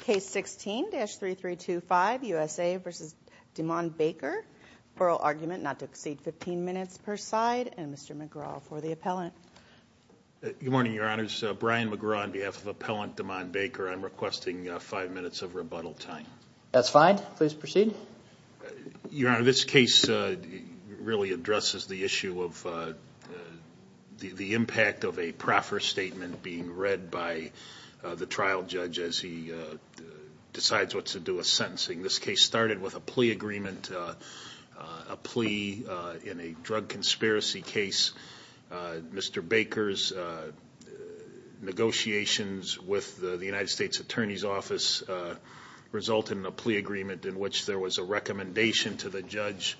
Case 16-3325 U.S.A. v. Demond Baker Oral argument not to exceed 15 minutes per side And Mr. McGraw for the appellant Good morning your honors, Brian McGraw on behalf of appellant Demond Baker I'm requesting 5 minutes of rebuttal time That's fine, please proceed Your honor, this case really addresses the issue of The impact of a proffer statement being read by the trial judge As he decides what to do with sentencing This case started with a plea agreement A plea in a drug conspiracy case Mr. Baker's negotiations with the United States Attorney's Office Resulted in a plea agreement in which there was a recommendation to the judge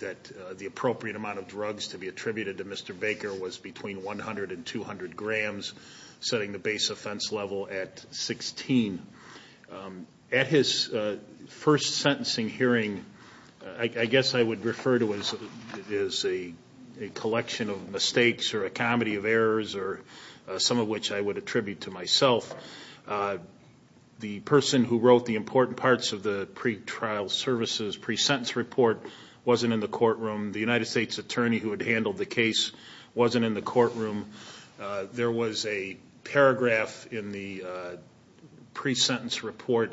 That the appropriate amount of drugs to be attributed to Mr. Baker Was between 100 and 200 grams Setting the base offense level at 16 At his first sentencing hearing I guess I would refer to it as a collection of mistakes Or a comedy of errors Some of which I would attribute to myself The person who wrote the important parts of the Pre-sentence report wasn't in the courtroom The United States Attorney who had handled the case wasn't in the courtroom There was a paragraph in the pre-sentence report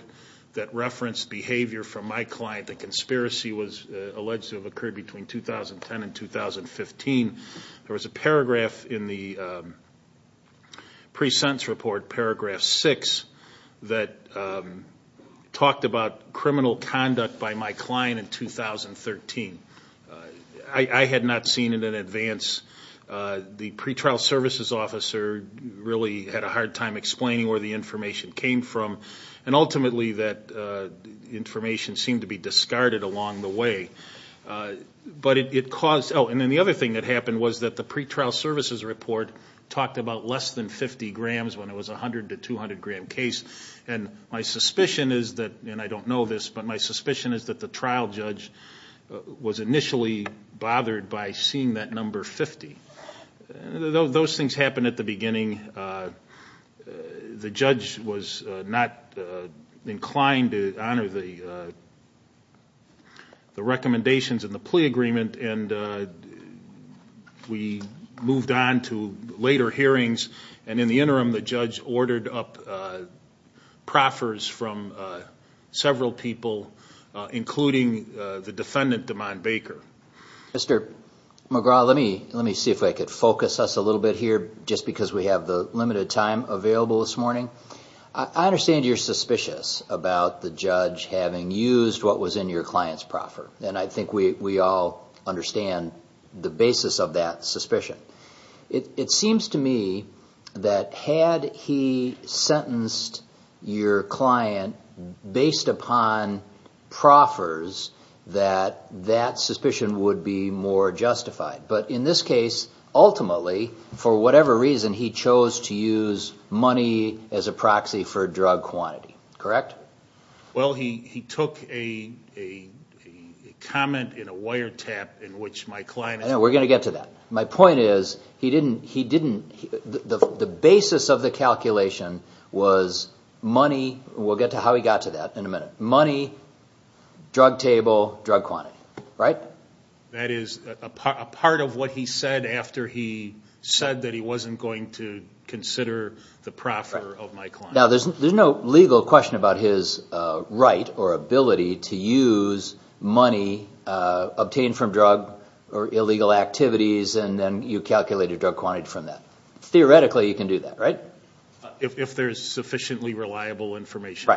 That referenced behavior from my client The conspiracy was alleged to have occurred between 2010 and 2015 There was a paragraph in the pre-sentence report, paragraph 6 That talked about criminal conduct by my client in 2013 I had not seen it in advance The pre-trial services officer really had a hard time explaining where the information came from And ultimately that information seemed to be discarded along the way And then the other thing that happened was that the pre-trial services report Talked about less than 50 grams when it was a 100 to 200 gram case And my suspicion is that, and I don't know this, but my suspicion is that The trial judge was initially bothered by seeing that number 50 Those things happened at the beginning The judge was not inclined to honor the recommendations in the plea agreement We moved on to later hearings And in the interim the judge ordered up proffers from several people Including the defendant, DeMond Baker Mr. McGraw, let me see if I can focus us a little bit here Just because we have the limited time available this morning I understand you're suspicious about the judge having used what was in your client's proffer And I think we all understand the basis of that suspicion It seems to me that had he sentenced your client based upon proffers That that suspicion would be more justified But in this case, ultimately, for whatever reason He chose to use money as a proxy for drug quantity, correct? Well, he took a comment in a wiretap in which my client I know, we're going to get to that My point is, the basis of the calculation was money We'll get to how he got to that in a minute Money, drug table, drug quantity, right? That is a part of what he said after he said that he wasn't going to consider the proffer of my client Now, there's no legal question about his right or ability to use money Obtained from drug or illegal activities And then you calculate your drug quantity from that Theoretically, you can do that, right? If there's sufficiently reliable information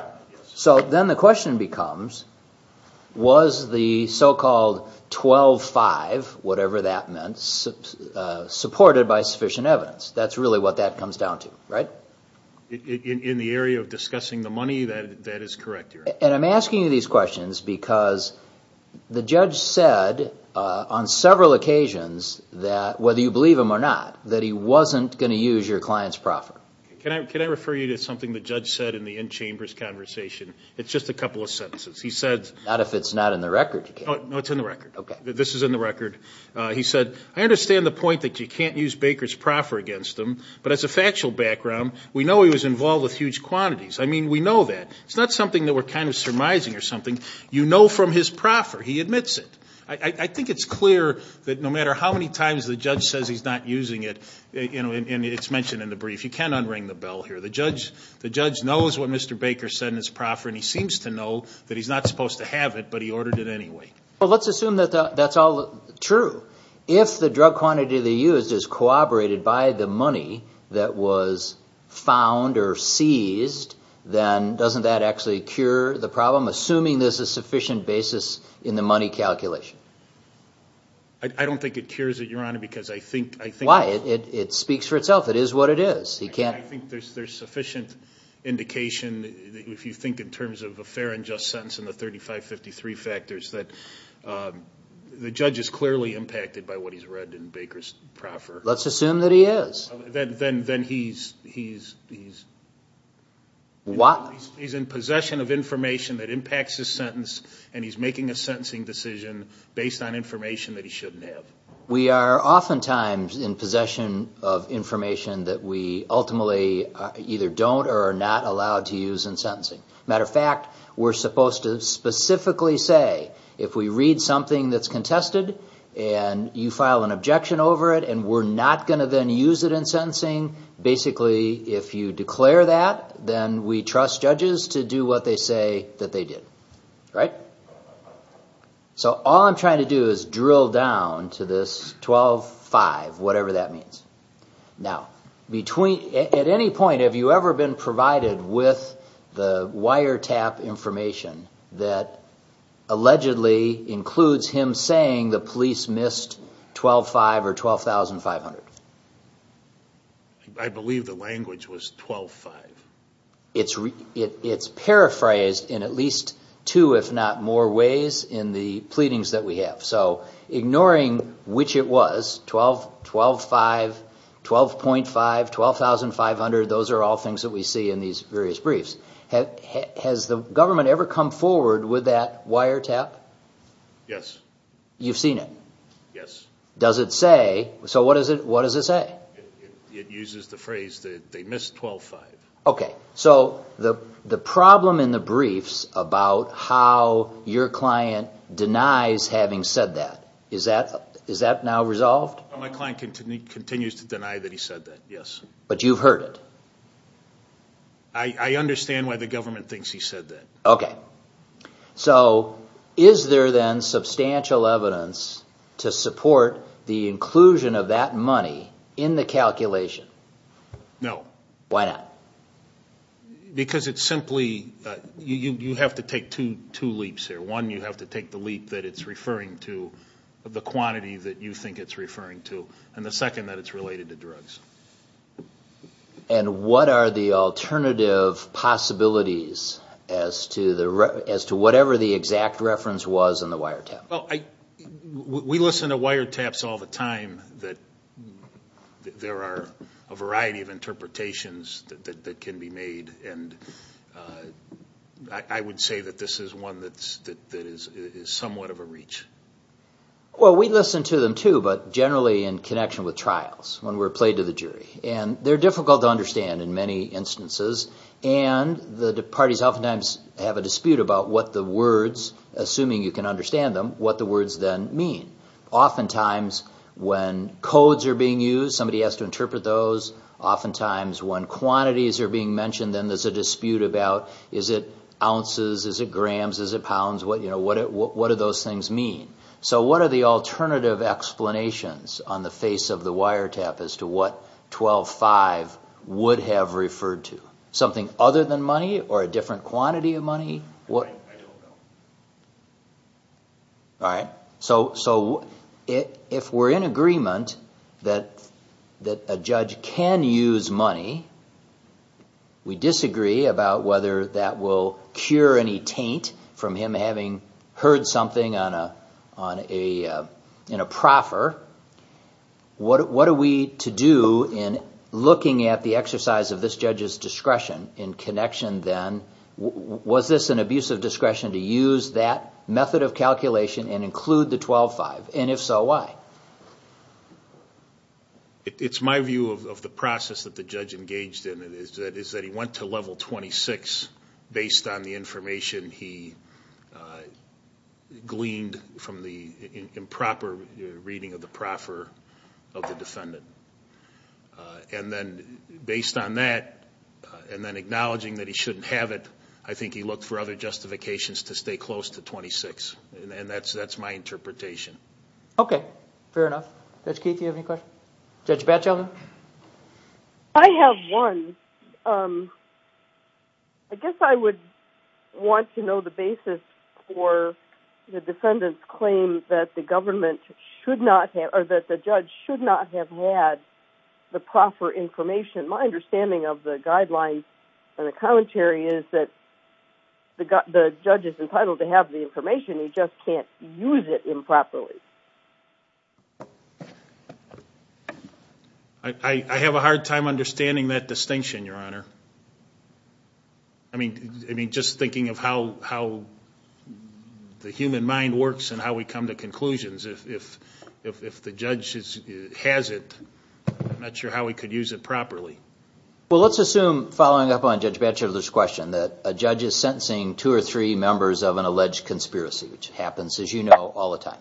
So then the question becomes Was the so-called 12-5, whatever that meant Supported by sufficient evidence That's really what that comes down to, right? In the area of discussing the money, that is correct And I'm asking you these questions because The judge said on several occasions That whether you believe him or not That he wasn't going to use your client's proffer Can I refer you to something the judge said in the in-chambers conversation? It's just a couple of sentences Not if it's not in the record No, it's in the record This is in the record He said, I understand the point that you can't use Baker's proffer against him But as a factual background We know he was involved with huge quantities I mean, we know that It's not something that we're kind of surmising or something You know from his proffer, he admits it I think it's clear that no matter how many times The judge says he's not using it And it's mentioned in the brief You can't unring the bell here The judge knows what Mr. Baker said in his proffer And he seems to know that he's not supposed to have it But he ordered it anyway Well, let's assume that that's all true If the drug quantity that he used is corroborated by the money That was found or seized Then doesn't that actually cure the problem? Assuming there's a sufficient basis in the money calculation I don't think it cures it, Your Honor Because I think Why? It speaks for itself It is what it is I think there's sufficient indication If you think in terms of a fair and just sentence And the 3553 factors That the judge is clearly impacted by what he's read in Baker's proffer Let's assume that he is Then he's in possession of information that impacts his sentence And he's making a sentencing decision Based on information that he shouldn't have We are oftentimes in possession of information That we ultimately either don't or are not allowed to use in sentencing Matter of fact, we're supposed to specifically say If we read something that's contested And you file an objection over it And we're not going to then use it in sentencing Basically, if you declare that Then we trust judges to do what they say that they did Right? So all I'm trying to do is drill down to this 12-5 Whatever that means Now, at any point Have you ever been provided with the wiretap information That allegedly includes him saying The police missed 12-5 or 12,500? I believe the language was 12-5 It's paraphrased in at least two if not more ways In the pleadings that we have So ignoring which it was 12-5, 12.5, 12,500 Those are all things that we see in these various briefs Has the government ever come forward with that wiretap? Yes You've seen it? Yes Does it say? So what does it say? It uses the phrase that they missed 12-5 Okay, so the problem in the briefs About how your client denies having said that Is that now resolved? My client continues to deny that he said that, yes But you've heard it? I understand why the government thinks he said that Okay So is there then substantial evidence To support the inclusion of that money In the calculation? No Why not? Because it's simply You have to take two leaps here One, you have to take the leap that it's referring to The quantity that you think it's referring to And the second, that it's related to drugs And what are the alternative possibilities As to whatever the exact reference was in the wiretap? We listen to wiretaps all the time There are a variety of interpretations that can be made I would say that this is one that is somewhat of a reach Well, we listen to them too But generally in connection with trials When we're played to the jury And they're difficult to understand in many instances And the parties oftentimes have a dispute about what the words Assuming you can understand them, what the words then mean Oftentimes when codes are being used Somebody has to interpret those Oftentimes when quantities are being mentioned Then there's a dispute about Is it ounces? Is it grams? Is it pounds? What do those things mean? So what are the alternative explanations On the face of the wiretap As to what 12-5 would have referred to? Something other than money? Or a different quantity of money? I don't know All right So if we're in agreement That a judge can use money We disagree about whether that will cure any taint From him having heard something in a proffer What are we to do in looking at the exercise Of this judge's discretion in connection then Was this an abuse of discretion To use that method of calculation and include the 12-5? And if so, why? It's my view of the process that the judge engaged in Is that he went to level 26 Based on the information he gleaned From the improper reading of the proffer Of the defendant And then based on that And then acknowledging that he shouldn't have it I think he looked for other justifications To stay close to 26 And that's my interpretation Okay, fair enough Judge Keith, do you have any questions? Judge Batchelder? I have one I guess I would want to know the basis For the defendant's claim That the government should not have Or that the judge should not have had The proffer information My understanding of the guidelines And the commentary is that The judge is entitled to have the information He just can't use it improperly I have a hard time understanding that distinction, Your Honor I mean, just thinking of how The human mind works and how we come to conclusions If the judge has it I'm not sure how he could use it properly Well, let's assume, following up on Judge Batchelder's question That a judge is sentencing two or three members of an alleged conspiracy Which happens, as you know, all the time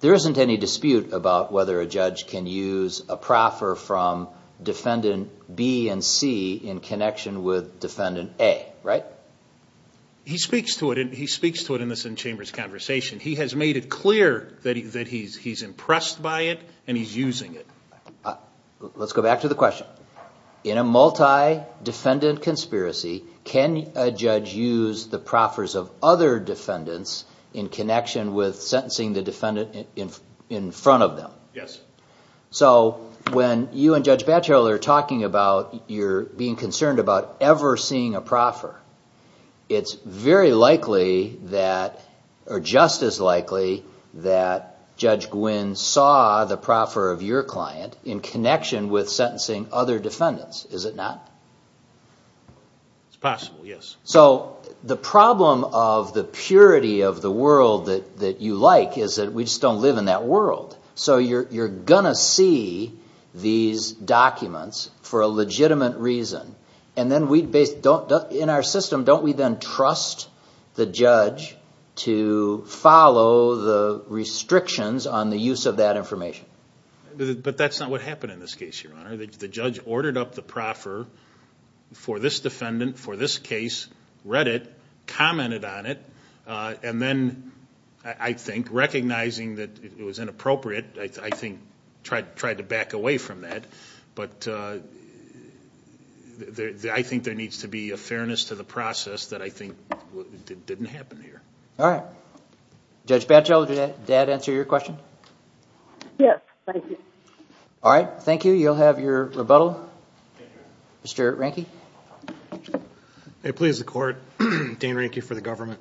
There isn't any dispute about whether a judge can use A proffer from defendant B and C In connection with defendant A, right? He speaks to it in this in-chambers conversation He has made it clear that he's impressed by it And he's using it Let's go back to the question In a multi-defendant conspiracy Can a judge use the proffers of other defendants In connection with sentencing the defendant in front of them? Yes So, when you and Judge Batchelder are talking about You're being concerned about ever seeing a proffer It's very likely that Or just as likely That Judge Gwynne saw the proffer of your client In connection with sentencing other defendants Is it not? It's possible, yes So, the problem of the purity of the world that you like Is that we just don't live in that world So you're going to see these documents For a legitimate reason And then we don't, in our system Don't we then trust the judge To follow the restrictions on the use of that information? But that's not what happened in this case, Your Honor The judge ordered up the proffer For this defendant, for this case Read it, commented on it And then, I think, recognizing that it was inappropriate I think tried to back away from that But I think there needs to be a fairness to the process That I think didn't happen here All right Judge Batchelder, did that answer your question? Yes, thank you All right, thank you You'll have your rebuttal Mr. Ranke May it please the court Dan Ranke for the government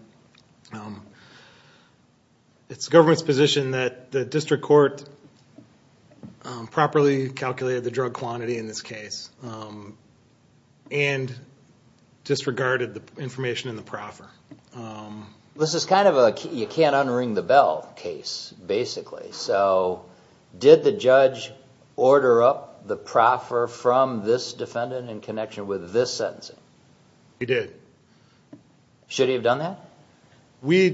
It's the government's position that the district court Properly calculated the drug quantity in this case And disregarded the information in the proffer This is kind of a you-can't-unring-the-bell case, basically So, did the judge order up the proffer From this defendant in connection with this sentencing? He did Should he have done that? We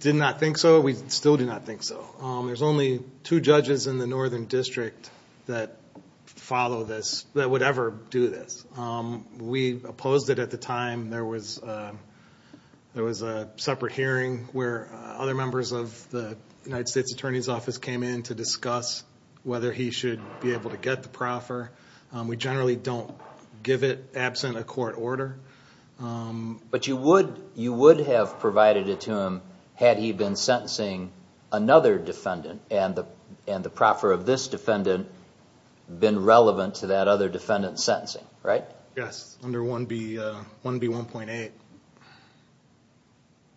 did not think so We still do not think so There's only two judges in the Northern District That follow this, that would ever do this We opposed it at the time There was a separate hearing Where other members of the United States Attorney's Office Came in to discuss whether he should be able to get the proffer We generally don't give it absent a court order But you would have provided it to him Had he been sentencing another defendant And the proffer of this defendant Been relevant to that other defendant's sentencing, right? Yes, under 1B1.8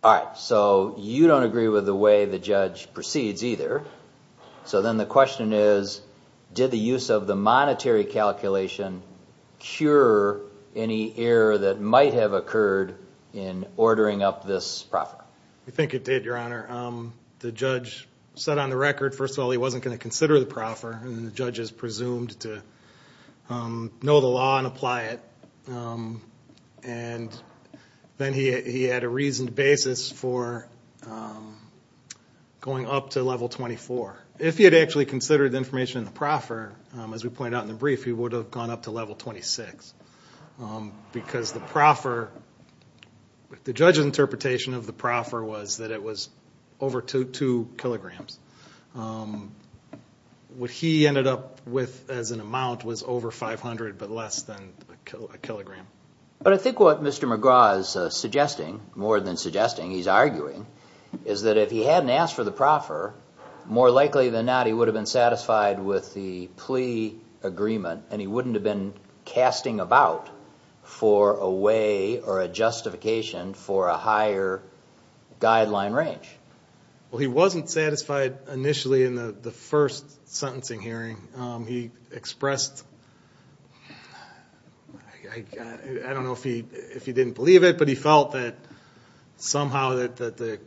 All right, so you don't agree with the way the judge proceeds either So then the question is Did the use of the monetary calculation Cure any error that might have occurred In ordering up this proffer? We think it did, Your Honor The judge said on the record First of all, he wasn't going to consider the proffer And the judge is presumed to Know the law and apply it And then he had a reasoned basis for Going up to level 24 If he had actually considered the information in the proffer As we pointed out in the brief He would have gone up to level 26 Because the proffer The judge's interpretation of the proffer was That it was over 2 kilograms What he ended up with as an amount Was over 500, but less than a kilogram But I think what Mr. McGraw is suggesting More than suggesting, he's arguing Is that if he hadn't asked for the proffer More likely than not, he would have been satisfied With the plea agreement And he wouldn't have been casting about For a way or a justification For a higher guideline range Well, he wasn't satisfied initially In the first sentencing hearing He expressed I don't know if he didn't believe it But he felt that somehow That the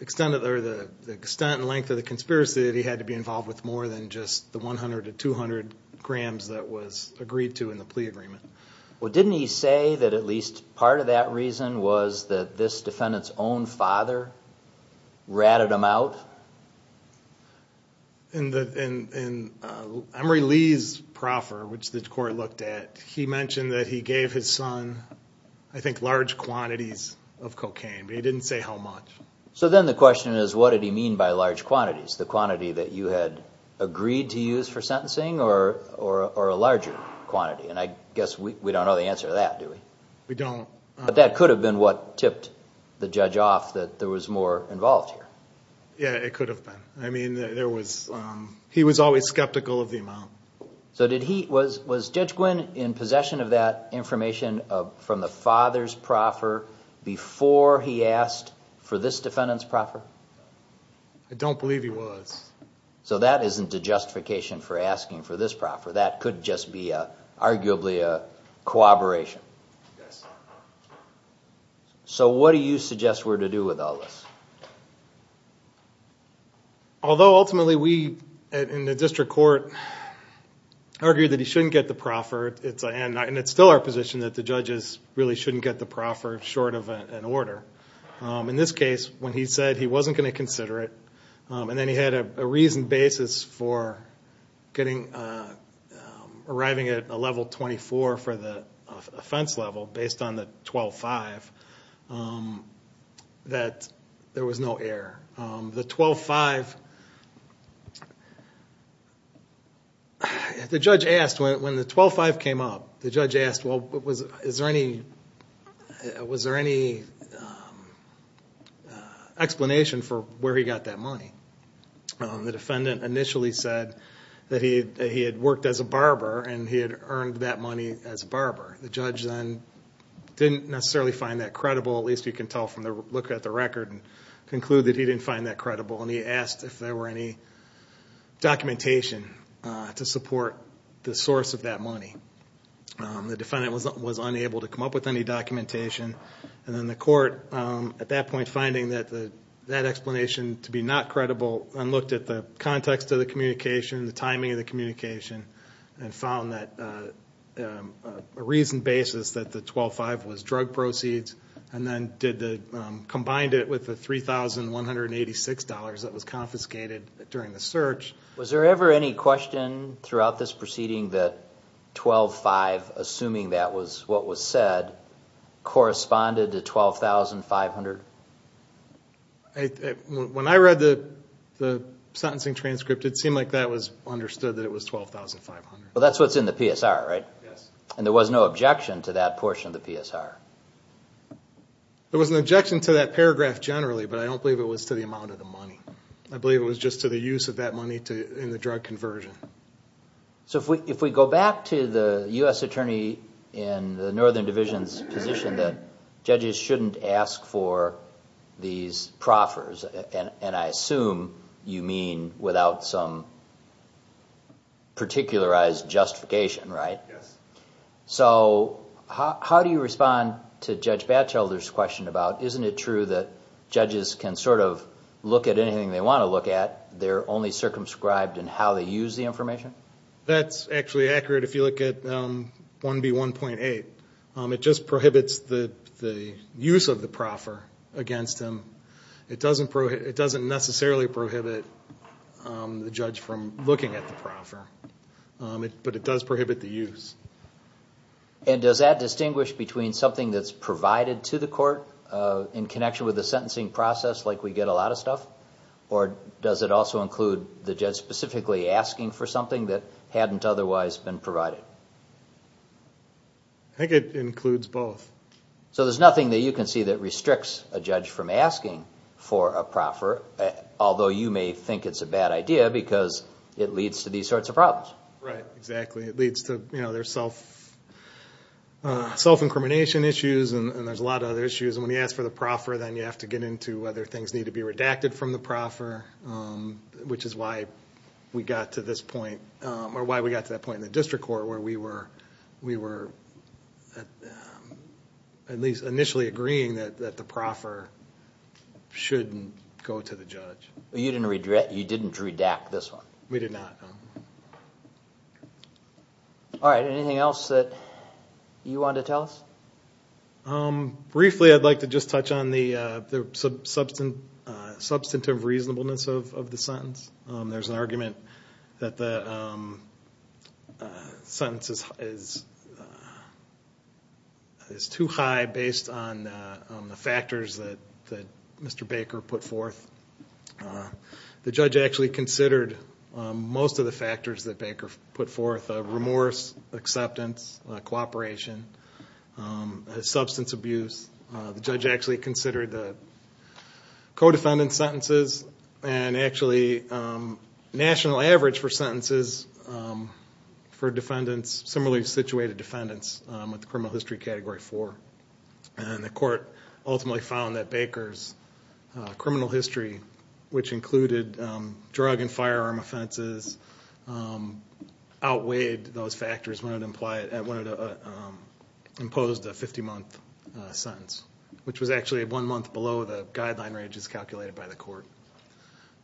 extent and length of the conspiracy That he had to be involved with More than just the 100 to 200 grams That was agreed to in the plea agreement Well, didn't he say that at least part of that reason Was that this defendant's own father Ratted him out? In Emery Lee's proffer Which the court looked at He mentioned that he gave his son I think large quantities of cocaine But he didn't say how much So then the question is What did he mean by large quantities? The quantity that you had agreed to use for sentencing Or a larger quantity? And I guess we don't know the answer to that, do we? We don't But that could have been what tipped the judge off That there was more involved here Yeah, it could have been I mean, there was... He was always skeptical of the amount So did he... Was Judge Gwynne in possession of that information From the father's proffer Before he asked for this defendant's proffer? I don't believe he was So that isn't a justification for asking for this proffer That could just be arguably a cooperation Yes So what do you suggest we're to do with all this? Although ultimately we, in the district court Argued that he shouldn't get the proffer And it's still our position that the judges Really shouldn't get the proffer short of an order In this case, when he said he wasn't going to consider it And then he had a reasoned basis for Getting... Arriving at a level 24 for the offense level Based on the 12-5 That there was no error The 12-5... The judge asked, when the 12-5 came up The judge asked, well, is there any... Was there any... Explanation for where he got that money? The defendant initially said That he had worked as a barber And he had earned that money as a barber The judge then didn't necessarily find that credible At least you can tell from the look at the record And conclude that he didn't find that credible And he asked if there were any documentation To support the source of that money The defendant was unable to come up with any documentation And then the court, at that point, finding that That explanation to be not credible And looked at the context of the communication The timing of the communication And found that... A reasoned basis that the 12-5 was drug proceeds And then did the... Combined it with the $3,186 That was confiscated during the search Was there ever any question throughout this proceeding That 12-5, assuming that was what was said Corresponded to $12,500? When I read the sentencing transcript It seemed like that was understood that it was $12,500 Well that's what's in the PSR, right? Yes And there was no objection to that portion of the PSR? There was an objection to that paragraph generally But I don't believe it was to the amount of the money I believe it was just to the use of that money In the drug conversion So if we go back to the U.S. Attorney In the Northern Division's position That judges shouldn't ask for these proffers And I assume you mean without some... Particularized justification, right? Yes So how do you respond to Judge Batchelder's question about Isn't it true that judges can sort of Look at anything they want to look at They're only circumscribed in how they use the information? That's actually accurate if you look at 1B1.8 It just prohibits the use of the proffer against them It doesn't necessarily prohibit The judge from looking at the proffer But it does prohibit the use And does that distinguish between something that's provided to the court In connection with the sentencing process Like we get a lot of stuff? Or does it also include the judge specifically asking for something That hadn't otherwise been provided? I think it includes both So there's nothing that you can see that restricts a judge from asking For a proffer Although you may think it's a bad idea Because it leads to these sorts of problems Right, exactly It leads to their self-incrimination issues And there's a lot of other issues And when you ask for the proffer Then you have to get into whether things need to be redacted from the proffer Which is why we got to this point Or why we got to that point in the district court Where we were at least initially agreeing That the proffer shouldn't go to the judge You didn't redact this one? We did not Alright, anything else that you wanted to tell us? Briefly, I'd like to just touch on the Substantive reasonableness of the sentence There's an argument that the sentence is Too high based on the factors that Mr. Baker put forth The judge actually considered most of the factors that Baker put forth Remorse, acceptance, cooperation, substance abuse The judge actually considered the co-defendant's sentences And actually national average for sentences For defendants, similarly situated defendants With criminal history category 4 And the court ultimately found that Baker's criminal history Which included drug and firearm offenses Outweighed those factors when it imposed a 50-month sentence Which was actually one month below the guideline ranges calculated by the court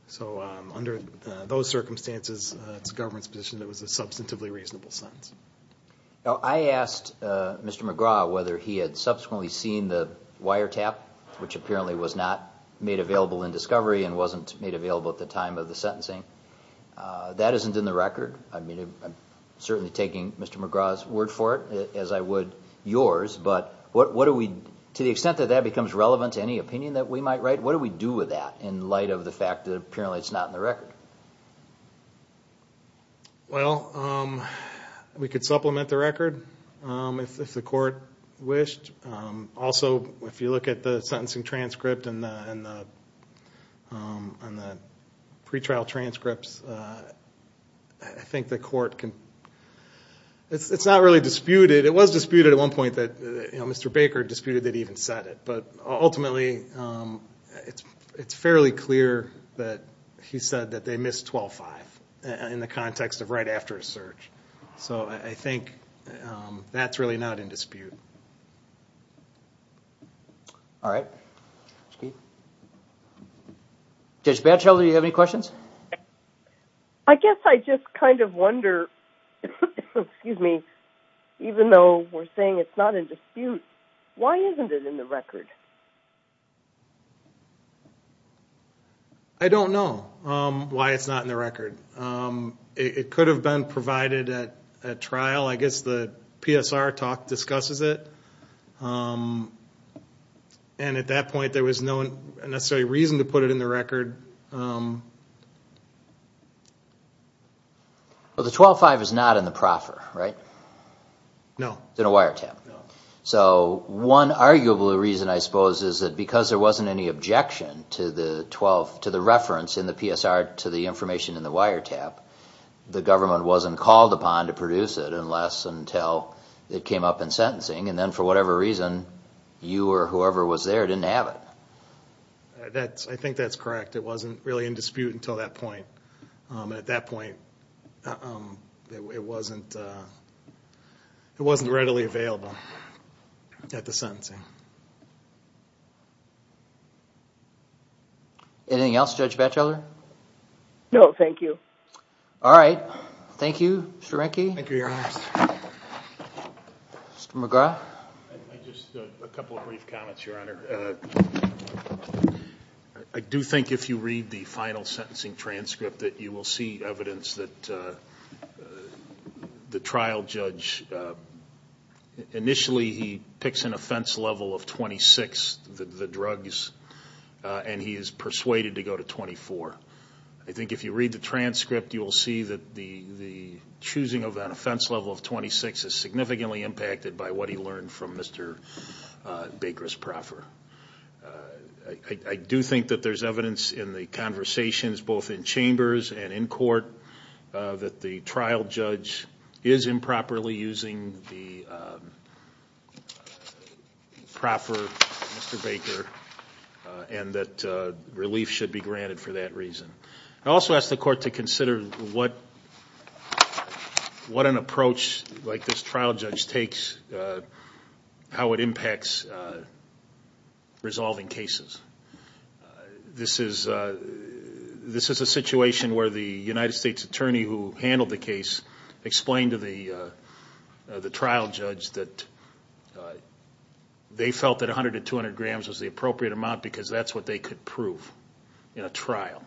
So under those circumstances It's the government's position that it was a substantively reasonable sentence I asked Mr. McGraw whether he had subsequently seen the wiretap Which apparently was not made available in discovery And wasn't made available at the time of the sentencing That isn't in the record I'm certainly taking Mr. McGraw's word for it As I would yours To the extent that that becomes relevant to any opinion that we might write What do we do with that in light of the fact that apparently it's not in the record? Well, we could supplement the record if the court wished Also, if you look at the sentencing transcript and the pretrial transcripts I think the court can It's not really disputed It was disputed at one point that Mr. Baker disputed that he even said it But ultimately, it's fairly clear that he said that they missed 12-5 In the context of right after a search So I think that's really not in dispute Judge Batchelder, do you have any questions? I guess I just kind of wonder Even though we're saying it's not in dispute Why isn't it in the record? I don't know why it's not in the record It could have been provided at trial I guess the PSR talk discusses it And at that point, there was no necessary reason to put it in the record Well, the 12-5 is not in the proffer, right? No It's in a wiretap So one arguable reason, I suppose, is that because there wasn't any objection To the reference in the PSR to the information in the wiretap The government wasn't called upon to produce it Unless until it came up in sentencing And then for whatever reason, you or whoever was there didn't have it I think that's correct It wasn't really in dispute until that point At that point, it wasn't readily available at the sentencing Anything else, Judge Batchelder? No, thank you All right, thank you, Mr. Renke Thank you, Your Honor Mr. McGrath Just a couple of brief comments, Your Honor I do think if you read the final sentencing transcript That you will see evidence that the trial judge Initially, he picks an offense level of 26, the drugs And he is persuaded to go to 24 I think if you read the transcript You will see that the choosing of an offense level of 26 Is significantly impacted by what he learned from Mr. Baker's proffer I do think that there's evidence in the conversations Both in chambers and in court That the trial judge is improperly using the proffer, Mr. Baker And that relief should be granted for that reason I also ask the court to consider What an approach like this trial judge takes How it impacts resolving cases This is a situation where the United States attorney Who handled the case Explained to the trial judge that They felt that 100 to 200 grams was the appropriate amount Because that's what they could prove in a trial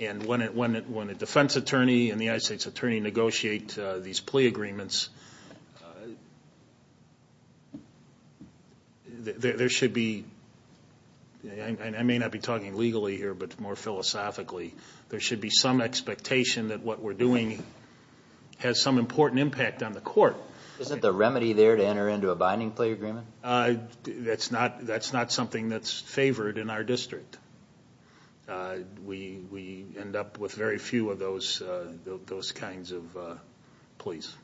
And when a defense attorney and the United States attorney Negotiate these plea agreements There should be I may not be talking legally here, but more philosophically There should be some expectation that what we're doing Has some important impact on the court Isn't the remedy there to enter into a binding plea agreement? That's not something that's favored in our district We end up with very few of those kinds of pleas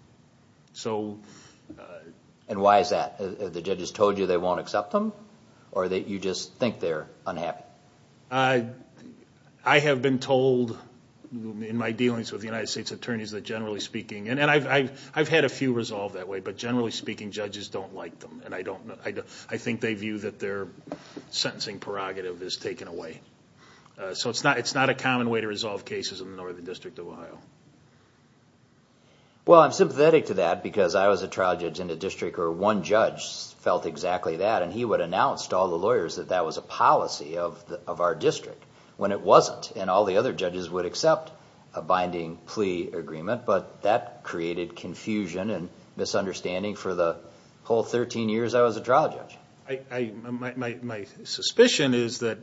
And why is that? The judges told you they won't accept them? Or that you just think they're unhappy? I have been told in my dealings with the United States attorneys That generally speaking, and I've had a few resolved that way But generally speaking, judges don't like them And I think they view that their sentencing prerogative is taken away So it's not a common way to resolve cases in the Northern District of Ohio Well, I'm sympathetic to that Because I was a trial judge in a district where one judge felt exactly that And he would announce to all the lawyers that that was a policy of our district When it wasn't And all the other judges would accept a binding plea agreement But that created confusion and misunderstanding For the whole 13 years I was a trial judge My suspicion is that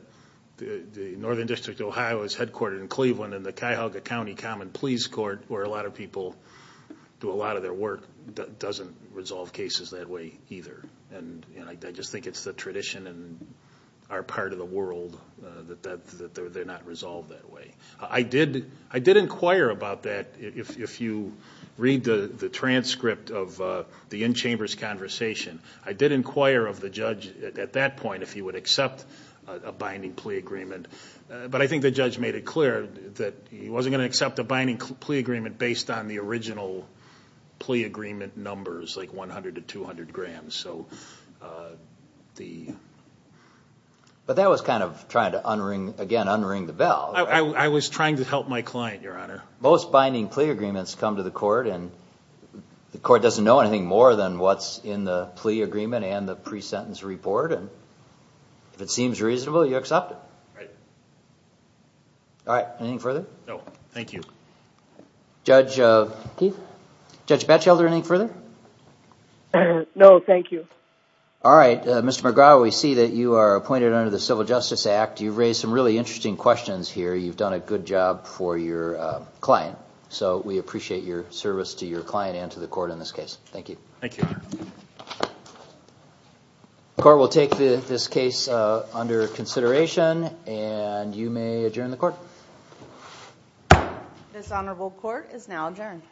the Northern District of Ohio Is headquartered in Cleveland And the Cuyahoga County Common Pleas Court Where a lot of people do a lot of their work Doesn't resolve cases that way either And I just think it's the tradition in our part of the world That they're not resolved that way I did inquire about that If you read the transcript of the in-chambers conversation I did inquire of the judge at that point If he would accept a binding plea agreement But I think the judge made it clear That he wasn't going to accept a binding plea agreement Based on the original plea agreement numbers Like 100 to 200 grams But that was kind of trying to, again, unring the bell I was trying to help my client, your honor Most binding plea agreements come to the court And the court doesn't know anything more Than what's in the plea agreement and the pre-sentence report And if it seems reasonable, you accept it Right All right, anything further? No, thank you Judge Batchelder, anything further? No, thank you All right, Mr. McGraw We see that you are appointed under the Civil Justice Act You've raised some really interesting questions here You've done a good job for your client So we appreciate your service to your client And to the court in this case Thank you Thank you, your honor The court will take this case under consideration And you may adjourn the court This honorable court is now adjourned